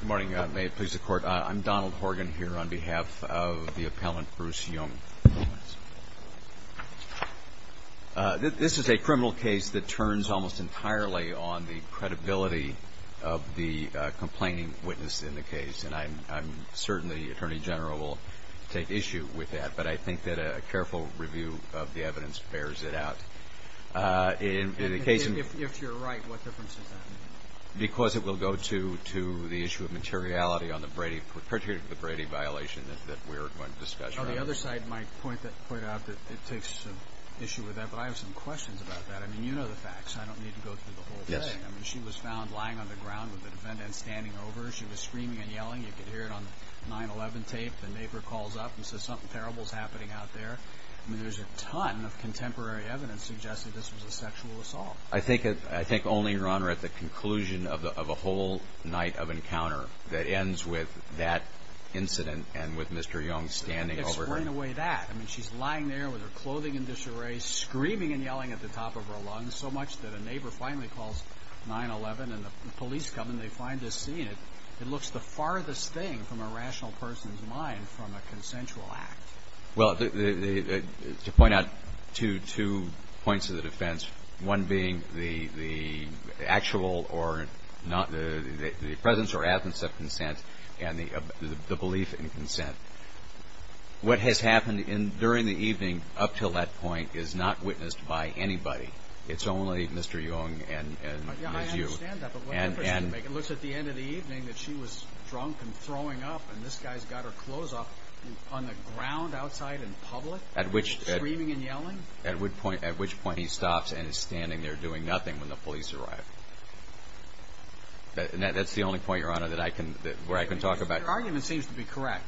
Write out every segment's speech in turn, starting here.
Good morning. May it please the Court, I'm Donald Horgan here on behalf of the appellant Bruce Yeung. This is a criminal case that turns almost entirely on the credibility of the complaining witness in the case, and I'm certain the Attorney General will take issue with that. But I think that a careful review of the evidence bears it out. If you're right, what difference does that make? Because it will go to the issue of materiality on the Brady, perjured for the Brady violation that we're going to discuss right now. The other side might point out that it takes issue with that, but I have some questions about that. I mean, you know the facts. I don't need to go through the whole thing. I mean, she was found lying on the ground with the defendant standing over her. She was screaming and yelling. You could hear it on the 9-11 tape. The neighbor calls up and says something terrible is happening out there. I mean, there's a ton of contemporary evidence suggesting this was a sexual assault. I think only, Your Honor, at the conclusion of a whole night of encounter that ends with that incident and with Mr. Yeung standing over her. Explain away that. I mean, she's lying there with her clothing in disarray, screaming and yelling at the top of her lungs, so much that a neighbor finally calls 9-11 and the police come and they find this scene. It looks the farthest thing from a rational person's mind from a consensual act. Well, to point out two points of the defense, one being the presence or absence of consent and the belief in consent. What has happened during the evening up until that point is not witnessed by anybody. It's only Mr. Yeung and you. I understand that, but what difference does it make? It looks at the end of the evening that she was drunk and throwing up, and this guy's got her clothes up on the ground outside in public, screaming and yelling? At which point he stops and is standing there doing nothing when the police arrive. That's the only point, Your Honor, where I can talk about it. Your argument seems to be correct.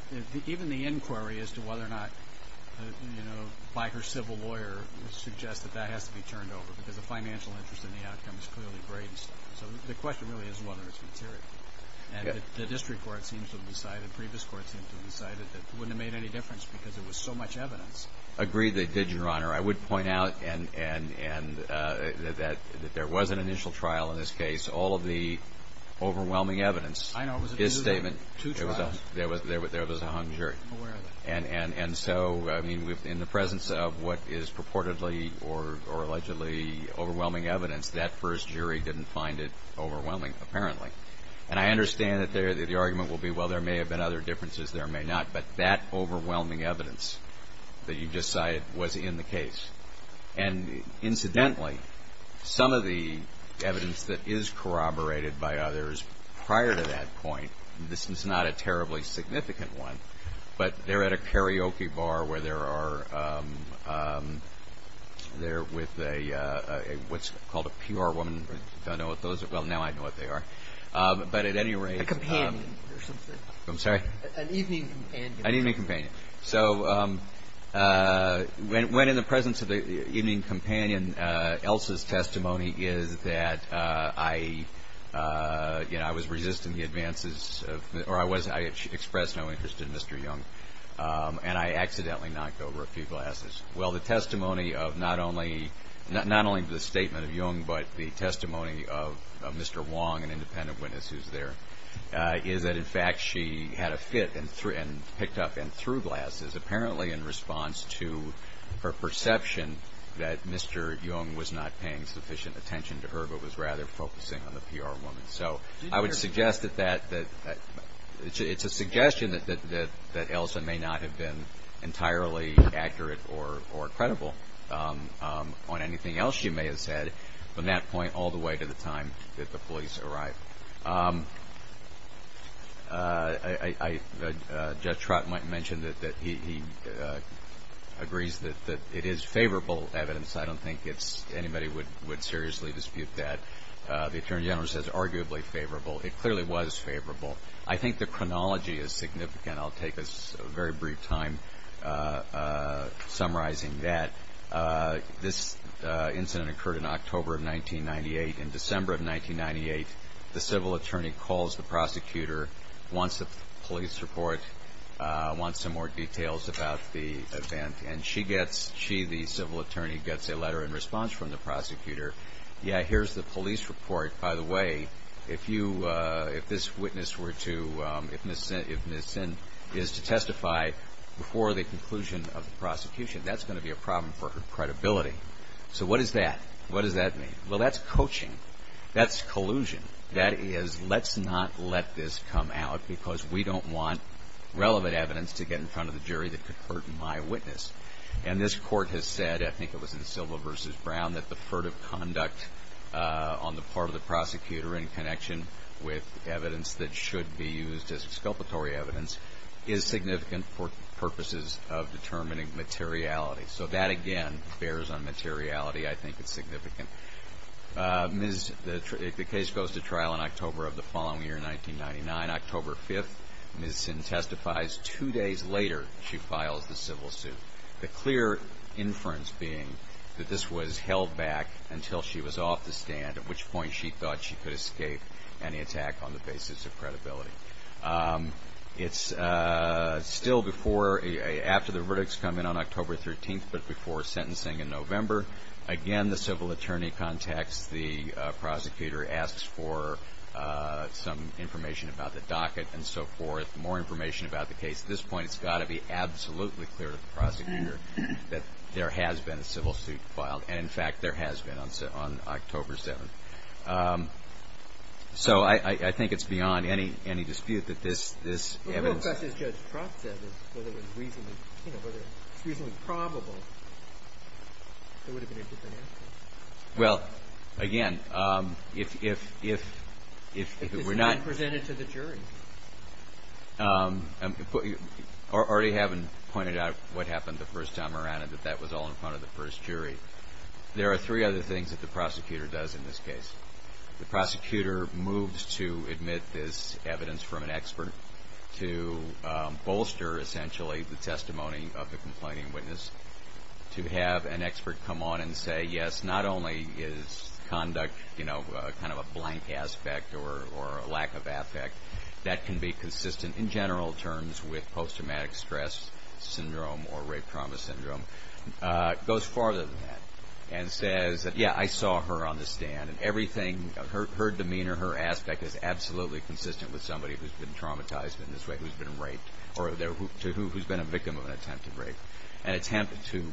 Even the inquiry as to whether or not, you know, by her civil lawyer, would suggest that that has to be turned over because the financial interest in the outcome is clearly great. So the question really is whether it's material. And the district court seems to have decided, previous courts seem to have decided, that it wouldn't have made any difference because there was so much evidence. Agreed that it did, Your Honor. I would point out that there was an initial trial in this case. All of the overwhelming evidence, his statement, there was a hung jury. And so, I mean, in the presence of what is purportedly or allegedly overwhelming evidence, that first jury didn't find it overwhelming, apparently. And I understand that the argument will be, well, there may have been other differences, there may not. But that overwhelming evidence that you just cited was in the case. And incidentally, some of the evidence that is corroborated by others prior to that point, this is not a terribly significant one, but they're at a karaoke bar where they're with what's called a PR woman. I don't know what those are. Well, now I know what they are. But at any rate. A companion or something. I'm sorry? An evening companion. An evening companion. So when in the presence of the evening companion, Elsa's testimony is that I, you know, I was resisting the advances of, or I was, I expressed no interest in Mr. Jung. And I accidentally knocked over a few glasses. Well, the testimony of not only, not only the statement of Jung, but the testimony of Mr. Wong, an independent witness who's there, is that in fact she had a fit and picked up and threw glasses, apparently in response to her perception that Mr. Jung was not paying sufficient attention to her, but was rather focusing on the PR woman. So I would suggest that that, it's a suggestion that Elsa may not have been entirely accurate or credible on anything else she may have said from that point all the way to the time that the police arrived. Judge Trott might mention that he agrees that it is favorable evidence. I don't think anybody would seriously dispute that. The Attorney General says arguably favorable. It clearly was favorable. I think the chronology is significant. I'll take a very brief time summarizing that. This incident occurred in October of 1998. In December of 1998, the civil attorney calls the prosecutor, wants a police report, wants some more details about the event, and she gets, she, the civil attorney, gets a letter in response from the prosecutor. Yeah, here's the police report. By the way, if you, if this witness were to, if Ms. Sin is to testify before the conclusion of the prosecution, that's going to be a problem for her credibility. So what is that? What does that mean? Well, that's coaching. That's collusion. That is, let's not let this come out because we don't want relevant evidence to get in front of the jury that could hurt my witness. And this court has said, I think it was in Silva versus Brown, that the furtive conduct on the part of the prosecutor in connection with evidence that should be used as exculpatory evidence is significant for purposes of determining materiality. So that, again, bears on materiality. I think it's significant. Ms., the case goes to trial in October of the following year, 1999. October 5th, Ms. Sin testifies. Two days later, she files the civil suit. The clear inference being that this was held back until she was off the stand, at which point she thought she could escape any attack on the basis of credibility. It's still before, after the verdicts come in on October 13th, but before sentencing in November. Again, the civil attorney contacts the prosecutor, asks for some information about the docket and so forth, more information about the case. At this point, it's got to be absolutely clear to the prosecutor that there has been a civil suit filed. And, in fact, there has been on October 7th. So I think it's beyond any dispute that this evidence. The real question, as Judge Trott said, is whether it's reasonably probable. There would have been a different answer. Well, again, if we're not. And presented to the jury. I already have pointed out what happened the first time around and that that was all in front of the first jury. There are three other things that the prosecutor does in this case. The prosecutor moves to admit this evidence from an expert to bolster, essentially, the testimony of the complaining witness to have an expert come on and say, yes, not only is conduct, you know, kind of a blank aspect or a lack of affect, that can be consistent in general terms with post-traumatic stress syndrome or rape trauma syndrome. Goes farther than that and says that, yeah, I saw her on the stand. Everything, her demeanor, her aspect is absolutely consistent with somebody who's been traumatized in this way, who's been raped or who's been a victim of an attempted rape. An attempt to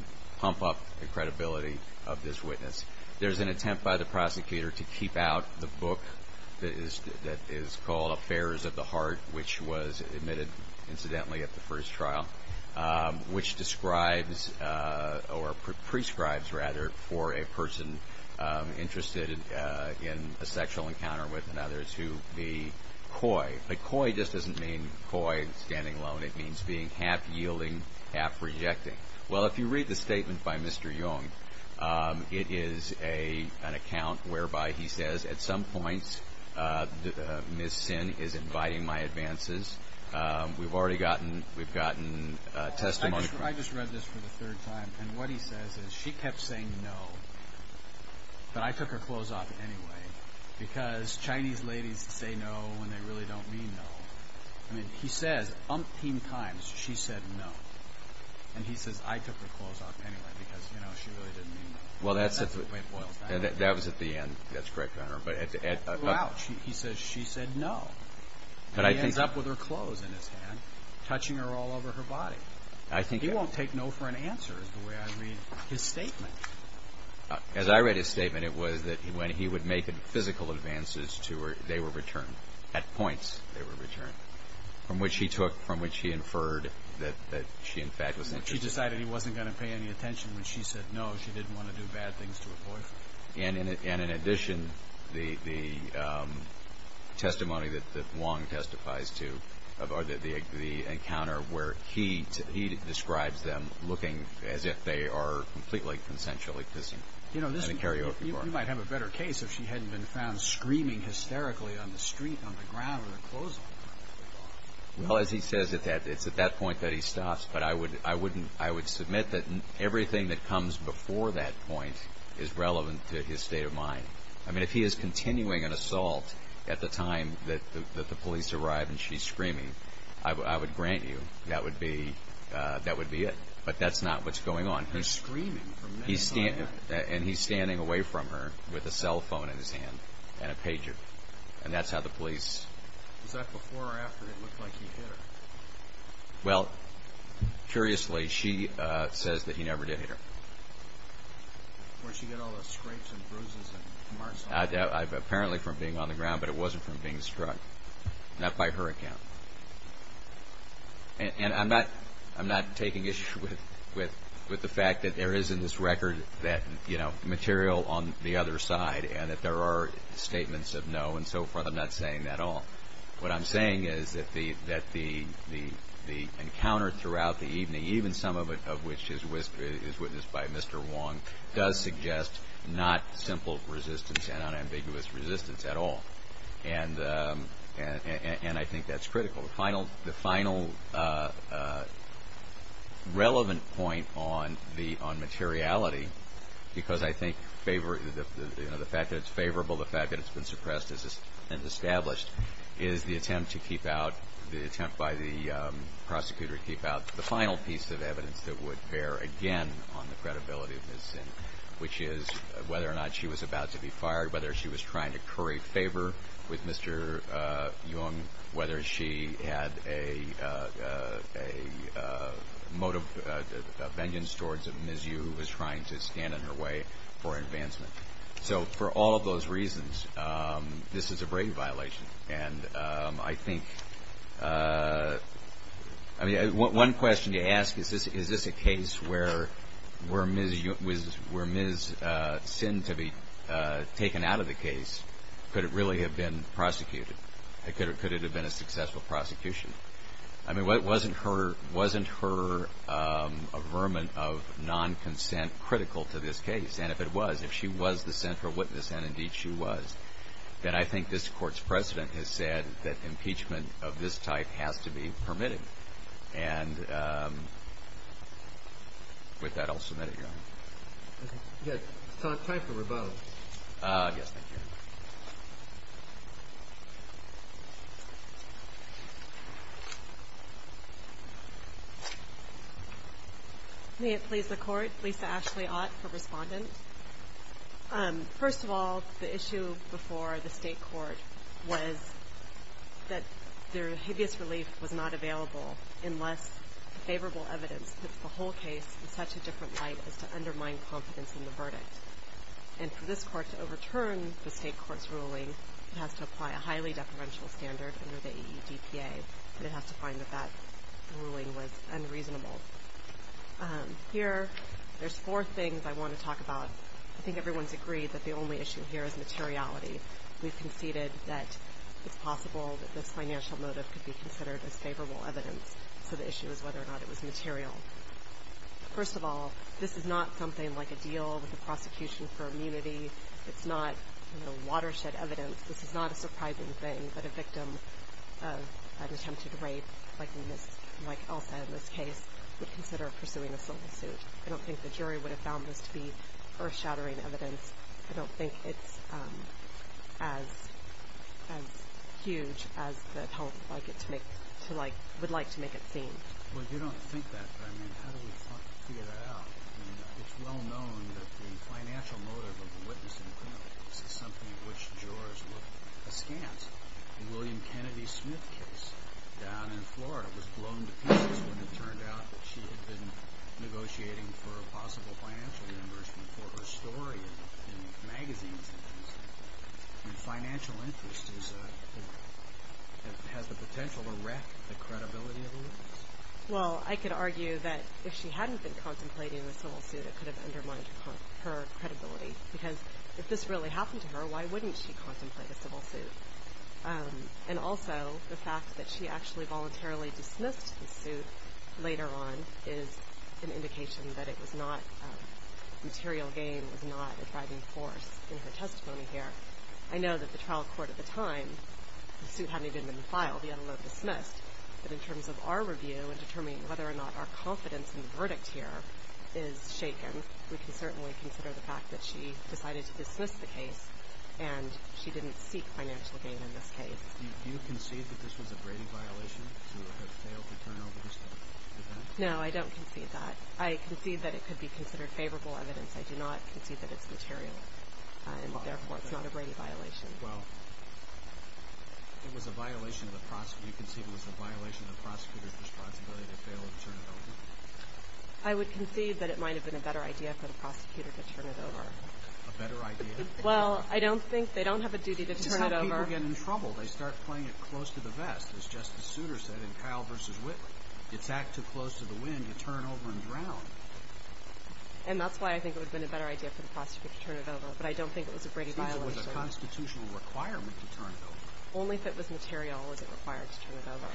pump up the credibility of this witness. There's an attempt by the prosecutor to keep out the book that is called Affairs of the Heart, which was admitted, incidentally, at the first trial, which describes or prescribes, rather, for a person interested in a sexual encounter with another to be coy. But coy just doesn't mean coy and standing alone. It means being half-yielding, half-rejecting. Well, if you read the statement by Mr. Jung, it is an account whereby he says, at some points, Ms. Sin is inviting my advances. We've already gotten testimony from her. I just read this for the third time, and what he says is she kept saying no, but I took her clothes off anyway, because Chinese ladies say no when they really don't mean no. I mean, he says umpteen times she said no, and he says I took her clothes off anyway, because, you know, she really didn't mean no. That's the way it boils down to it. That was at the end. That's correct, Connor. Ouch. He says she said no, and he ends up with her clothes in his hand, touching her all over her body. He won't take no for an answer, is the way I read his statement. As I read his statement, it was that when he would make physical advances to her, they were returned. At points, they were returned. From which he took, from which he inferred that she, in fact, was interested. He decided he wasn't going to pay any attention when she said no. And in addition, the testimony that Wong testifies to, or the encounter where he describes them looking as if they are completely consensually kissing in a karaoke bar. You know, you might have a better case if she hadn't been found screaming hysterically on the street, on the ground with her clothes on. Well, as he says, it's at that point that he stops, but I would submit that everything that comes before that point is relevant to his state of mind. I mean, if he is continuing an assault at the time that the police arrive and she's screaming, I would grant you that would be it. But that's not what's going on. And he's screaming from neck to neck. And he's standing away from her with a cell phone in his hand and a pager. And that's how the police... Was that before or after it looked like he hit her? Well, curiously, she says that he never did hit her. Where'd she get all the scrapes and bruises and marks on her? Apparently from being on the ground, but it wasn't from being struck. Not by her account. And I'm not taking issue with the fact that there is in this record that material on the other side and that there are statements of no and so forth. I'm not saying that at all. What I'm saying is that the encounter throughout the evening, even some of it of which is witnessed by Mr. Wong, does suggest not simple resistance and unambiguous resistance at all. And I think that's critical. The final relevant point on materiality, because I think the fact that it's favorable, the fact that it's been suppressed and established, is the attempt by the prosecutor to keep out the final piece of evidence that would bear again on the credibility of Ms. Sin, which is whether or not she was about to be fired, whether she was trying to curry favor with Mr. Jung, whether she had a motive of vengeance towards Ms. Yu, who was trying to stand in her way for advancement. So for all of those reasons, this is a brain violation. And I think, I mean, one question you ask is, is this a case where Ms. Sin to be taken out of the case, could it really have been prosecuted? Could it have been a successful prosecution? I mean, wasn't her averment of non-consent critical to this case? And if it was, if she was the central witness, and indeed she was, then I think this Court's precedent has said that impeachment of this type has to be permitted. Yes, time for rebuttal. Yes, thank you. May it please the Court, Lisa Ashley Ott for Respondent. First of all, the issue before the State Court was that their habeas relief was not available unless favorable evidence puts the whole case in such a different light as to undermine confidence in the verdict. And for this Court to overturn the State Court's ruling, it has to apply a highly deferential standard under the EEDPA, and it has to find that that ruling was unreasonable. Here, there's four things I want to talk about. I think everyone's agreed that the only issue here is materiality. We've conceded that it's possible that this financial motive could be considered as favorable evidence, so the issue is whether or not it was material. First of all, this is not something like a deal with the prosecution for immunity. It's not watershed evidence. This is not a surprising thing that a victim of an attempted rape, like Elsa in this case, would consider pursuing a civil suit. I don't think the jury would have found this to be earth-shattering evidence. I don't think it's as huge as the public would like to make it seem. Well, you don't think that, but, I mean, how do we figure that out? I mean, it's well known that the financial motive of the witness in the criminal case is something of which jurors look askance. The William Kennedy Smith case down in Florida was blown to pieces when it turned out that she had been negotiating for a possible financial reimbursement for her story in magazines. I mean, financial interest has the potential to wreck the credibility of the witness. Well, I could argue that if she hadn't been contemplating the civil suit, it could have undermined her credibility, because if this really happened to her, why wouldn't she contemplate a civil suit? And also, the fact that she actually voluntarily dismissed the suit later on is an indication that it was not material gain, was not a driving force in her testimony here. I know that the trial court at the time, the suit hadn't even been filed, yet it was dismissed. But in terms of our review in determining whether or not our confidence in the verdict here is shaken, we can certainly consider the fact that she decided to dismiss the case and she didn't seek financial gain in this case. Do you concede that this was a Brady violation, to have failed to turn over her story? No, I don't concede that. I concede that it could be considered favorable evidence. I do not concede that it's material, and therefore it's not a Brady violation. Well, if you concede it was a violation of the prosecutor's responsibility to fail to turn it over? I would concede that it might have been a better idea for the prosecutor to turn it over. A better idea? Well, I don't think they don't have a duty to turn it over. Some people get in trouble. They start playing it close to the vest, as Justice Souter said in Kyle v. Whitley. It's act too close to the wind to turn over and drown. And that's why I think it would have been a better idea for the prosecutor to turn it over, but I don't think it was a Brady violation. It seems it was a constitutional requirement to turn it over. Only if it was material was it required to turn it over.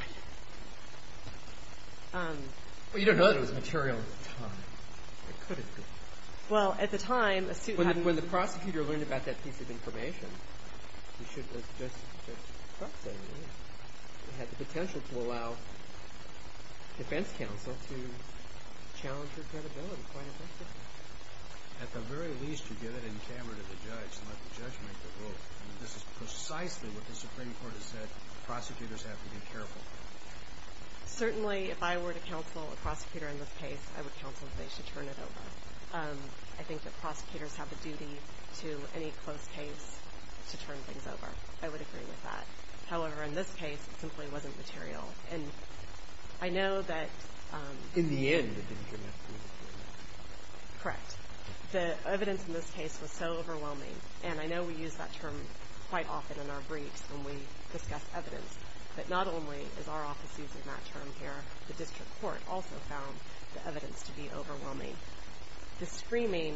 Well, you don't know that it was material at the time. It couldn't be. Well, at the time, a suit had been issued. When the prosecutor learned about that piece of information, he should have looked just approximately. It had the potential to allow defense counsel to challenge her credibility quite effectively. At the very least, you give it in camera to the judge and let the judge make the rule. This is precisely what the Supreme Court has said prosecutors have to be careful. Certainly, if I were to counsel a prosecutor in this case, I would counsel that they should turn it over. I think that prosecutors have a duty to any close case to turn things over. I would agree with that. However, in this case, it simply wasn't material. And I know that— In the end, it didn't turn out to be material. Correct. The evidence in this case was so overwhelming, and I know we use that term quite often in our briefs when we discuss evidence, but not only is our office using that term here, the district court also found the evidence to be overwhelming. The screaming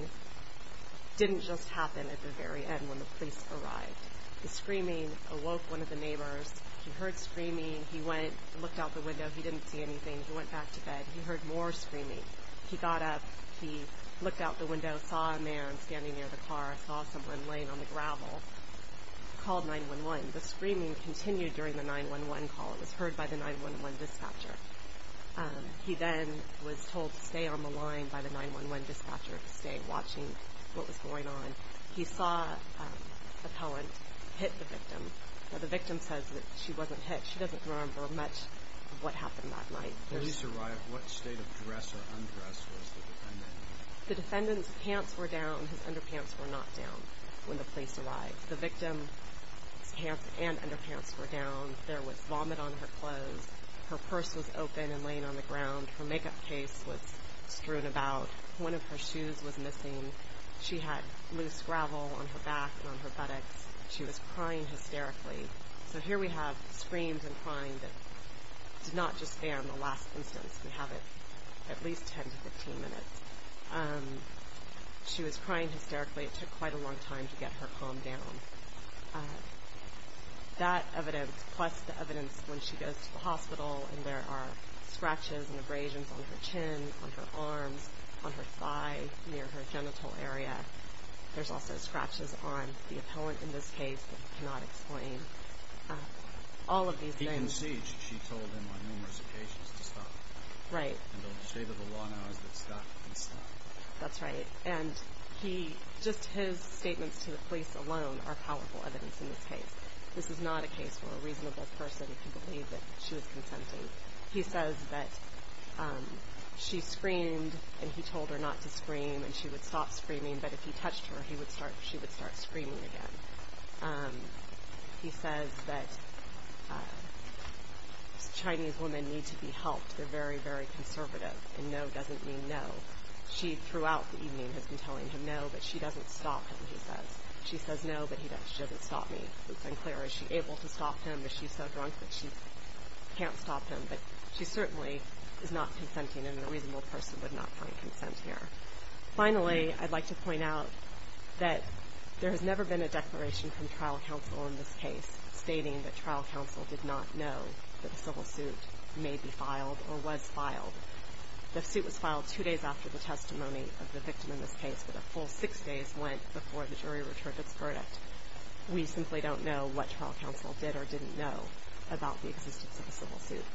didn't just happen at the very end when the police arrived. The screaming awoke one of the neighbors. He heard screaming. He went and looked out the window. He didn't see anything. He went back to bed. He heard more screaming. He got up. He looked out the window, saw a man standing near the car, saw someone laying on the gravel, called 911. The screaming continued during the 911 call. It was heard by the 911 dispatcher. He then was told to stay on the line by the 911 dispatcher, to stay watching what was going on. He saw a poet hit the victim. Now, the victim says that she wasn't hit. She doesn't remember much of what happened that night. When the police arrived, what state of dress or undress was the defendant in? The defendant's pants were down. His underpants were not down when the police arrived. The victim's pants and underpants were down. There was vomit on her clothes. Her purse was open and laying on the ground. Her makeup case was strewn about. One of her shoes was missing. She had loose gravel on her back and on her buttocks. She was crying hysterically. So here we have screams and crying that did not just stay on the last instance. We have it at least 10 to 15 minutes. She was crying hysterically. It took quite a long time to get her calmed down. That evidence, plus the evidence when she goes to the hospital and there are scratches and abrasions on her chin, on her arms, on her thigh, near her genital area. There's also scratches on the appellant in this case. I cannot explain all of these things. He conceded, she told him on numerous occasions, to stop. Right. And the state of the law now is that stop can stop. That's right. Just his statements to the police alone are powerful evidence in this case. This is not a case where a reasonable person can believe that she was consenting. He says that she screamed and he told her not to scream and she would stop screaming but if he touched her she would start screaming again. He says that Chinese women need to be helped. They're very, very conservative and no doesn't mean no. She, throughout the evening, has been telling him no but she doesn't stop him, he says. She says no but he doesn't stop me. It's unclear is she able to stop him. Is she so drunk that she can't stop him? But she certainly is not consenting and a reasonable person would not find consent here. Finally, I'd like to point out that there has never been a declaration from trial counsel in this case stating that trial counsel did not know that a civil suit may be filed or was filed. The suit was filed two days after the testimony of the victim in this case but a full six days went before the jury returned its verdict. We simply don't know what trial counsel did or didn't know about the existence of a civil suit.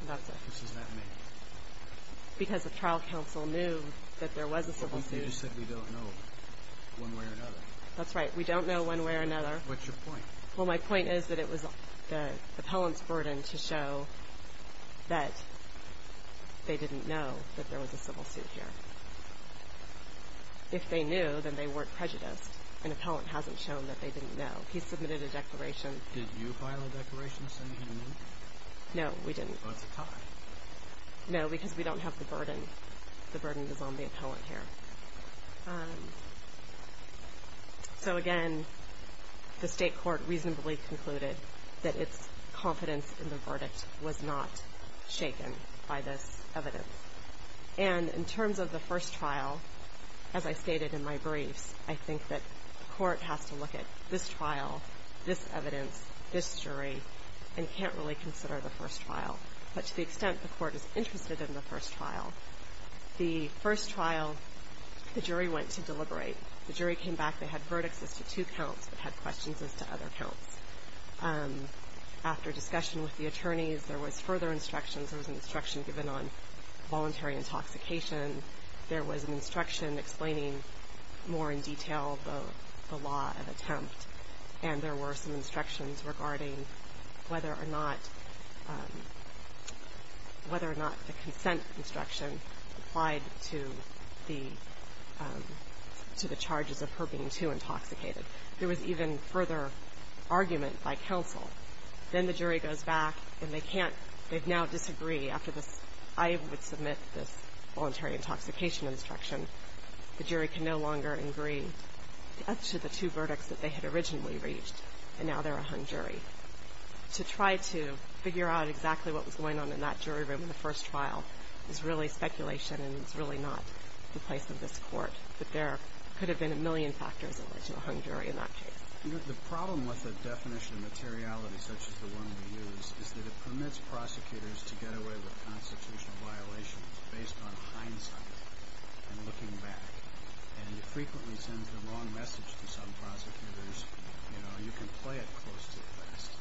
Because the trial counsel knew that there was a civil suit. You just said we don't know one way or another. That's right. We don't know one way or another. What's your point? Well, my point is that it was the appellant's burden to show that they didn't know that there was a civil suit here. If they knew, then they weren't prejudiced. An appellant hasn't shown that they didn't know. He submitted a declaration. Did you file a declaration saying you knew? No, we didn't. Well, that's a tie. No, because we don't have the burden. The burden is on the appellant here. So, again, the state court reasonably concluded that its confidence in the verdict was not shaken by this evidence. And in terms of the first trial, as I stated in my briefs, I think that court has to look at this trial, this evidence, this jury, and can't really consider the first trial. But to the extent the court is interested in the first trial, the first trial, the jury went to deliberate. The jury came back. They had verdicts as to two counts but had questions as to other counts. After discussion with the attorneys, there was further instructions. There was an instruction given on voluntary intoxication. There was an instruction explaining more in detail the law of attempt. And there were some instructions regarding whether or not the consent instruction applied to the charges of her being too intoxicated. There was even further argument by counsel. Then the jury goes back, and they can't. They now disagree after this. I would submit this voluntary intoxication instruction. The jury can no longer agree as to the two verdicts that they had originally reached. And now they're a hung jury. To try to figure out exactly what was going on in that jury room in the first trial is really speculation, and it's really not the place of this court. But there could have been a million factors in which a hung jury in that case. The problem with the definition of materiality, such as the one we use, is that it permits prosecutors to get away with constitutional violations based on hindsight and looking back. And it frequently sends the wrong message to some prosecutors. You know, you can play it close to the best,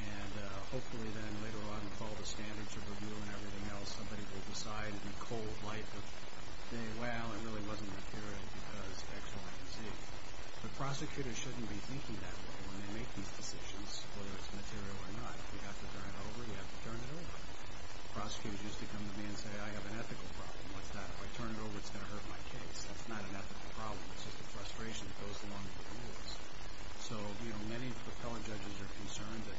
and hopefully then later on with all the standards of review and everything else, somebody will decide in the cold light of day, well, it really wasn't a period because X, Y, and Z. But prosecutors shouldn't be thinking that way when they make these decisions, whether it's material or not. You have to turn it over. You have to turn it over. Prosecutors used to come to me and say, I have an ethical problem. What's that? If I turn it over, it's going to hurt my case. That's not an ethical problem. It's just a frustration that goes along with the rules. So, you know, many of the fellow judges are concerned that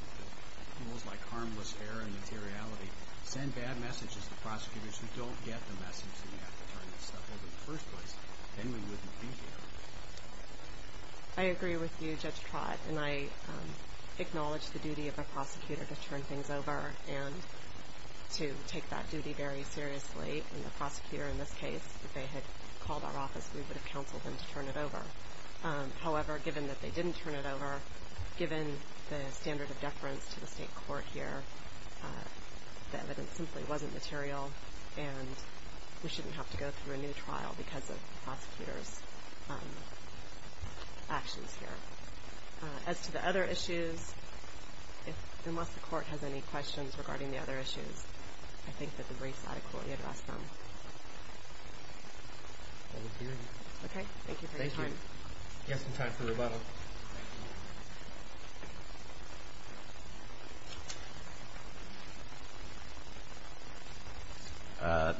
rules like harmless error and materiality send bad messages to prosecutors who don't get the message that you have to turn this stuff over in the first place. Then we wouldn't be here. I agree with you, Judge Trott, and I acknowledge the duty of a prosecutor to turn things over and to take that duty very seriously. And the prosecutor in this case, if they had called our office, we would have counseled them to turn it over. However, given that they didn't turn it over, given the standard of deference to the state court here, the evidence simply wasn't material, and we shouldn't have to go through a new trial because of the prosecutor's actions here. As to the other issues, unless the court has any questions regarding the other issues, I think that the briefs adequately address them. I agree with you. Okay, thank you for your time. Thank you. You have some time for rebuttal. Thank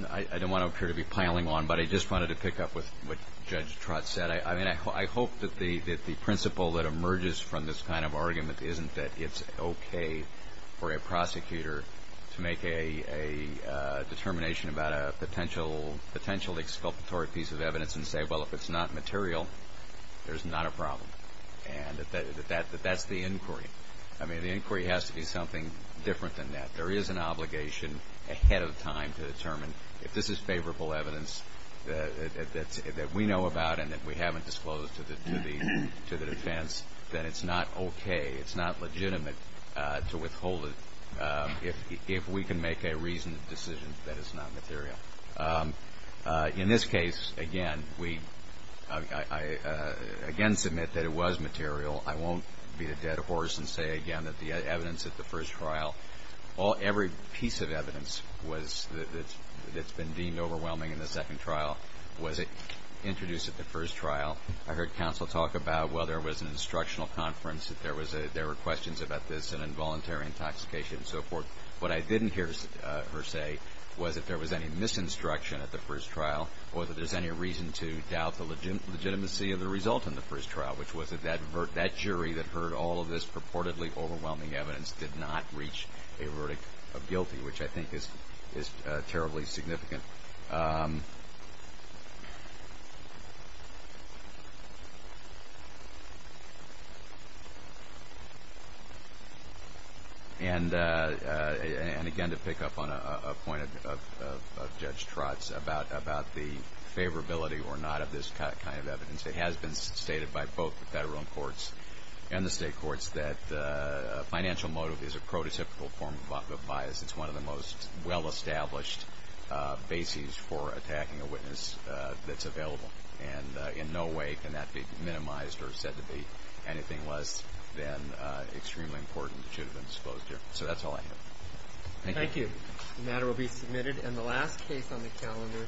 you. I don't want to appear to be piling on, but I just wanted to pick up with what Judge Trott said. I mean, I hope that the principle that emerges from this kind of argument isn't that it's okay for a prosecutor to make a determination about a potential exculpatory piece of evidence and say, well, if it's not material, there's not a problem, and that that's the inquiry. I mean, the inquiry has to be something different than that. There is an obligation ahead of time to determine if this is favorable evidence that we know about and that we haven't disclosed to the defense that it's not okay, it's not legitimate to withhold it if we can make a reasoned decision that it's not material. In this case, again, I again submit that it was material. I won't beat a dead horse and say again that the evidence at the first trial, every piece of evidence that's been deemed overwhelming in the second trial was introduced at the first trial. I heard counsel talk about, well, there was an instructional conference, there were questions about this and involuntary intoxication and so forth. What I didn't hear her say was if there was any misinstruction at the first trial or that there's any reason to doubt the legitimacy of the result in the first trial, which was that that jury that heard all of this purportedly overwhelming evidence did not reach a verdict of guilty, which I think is terribly significant. And again, to pick up on a point of Judge Trotz about the favorability or not of this kind of evidence, it has been stated by both the federal courts and the state courts that financial motive is a prototypical form of bias. It's one of the most well-established bases for attacking a witness that's available. And in no way can that be minimized or said to be anything less than extremely important that should have been disclosed here. So that's all I have. Thank you. The matter will be submitted. And the last case on the calendar,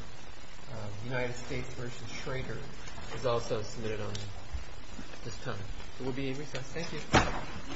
United States v. Schrader, is also submitted on this panel. We'll be in recess. Thank you.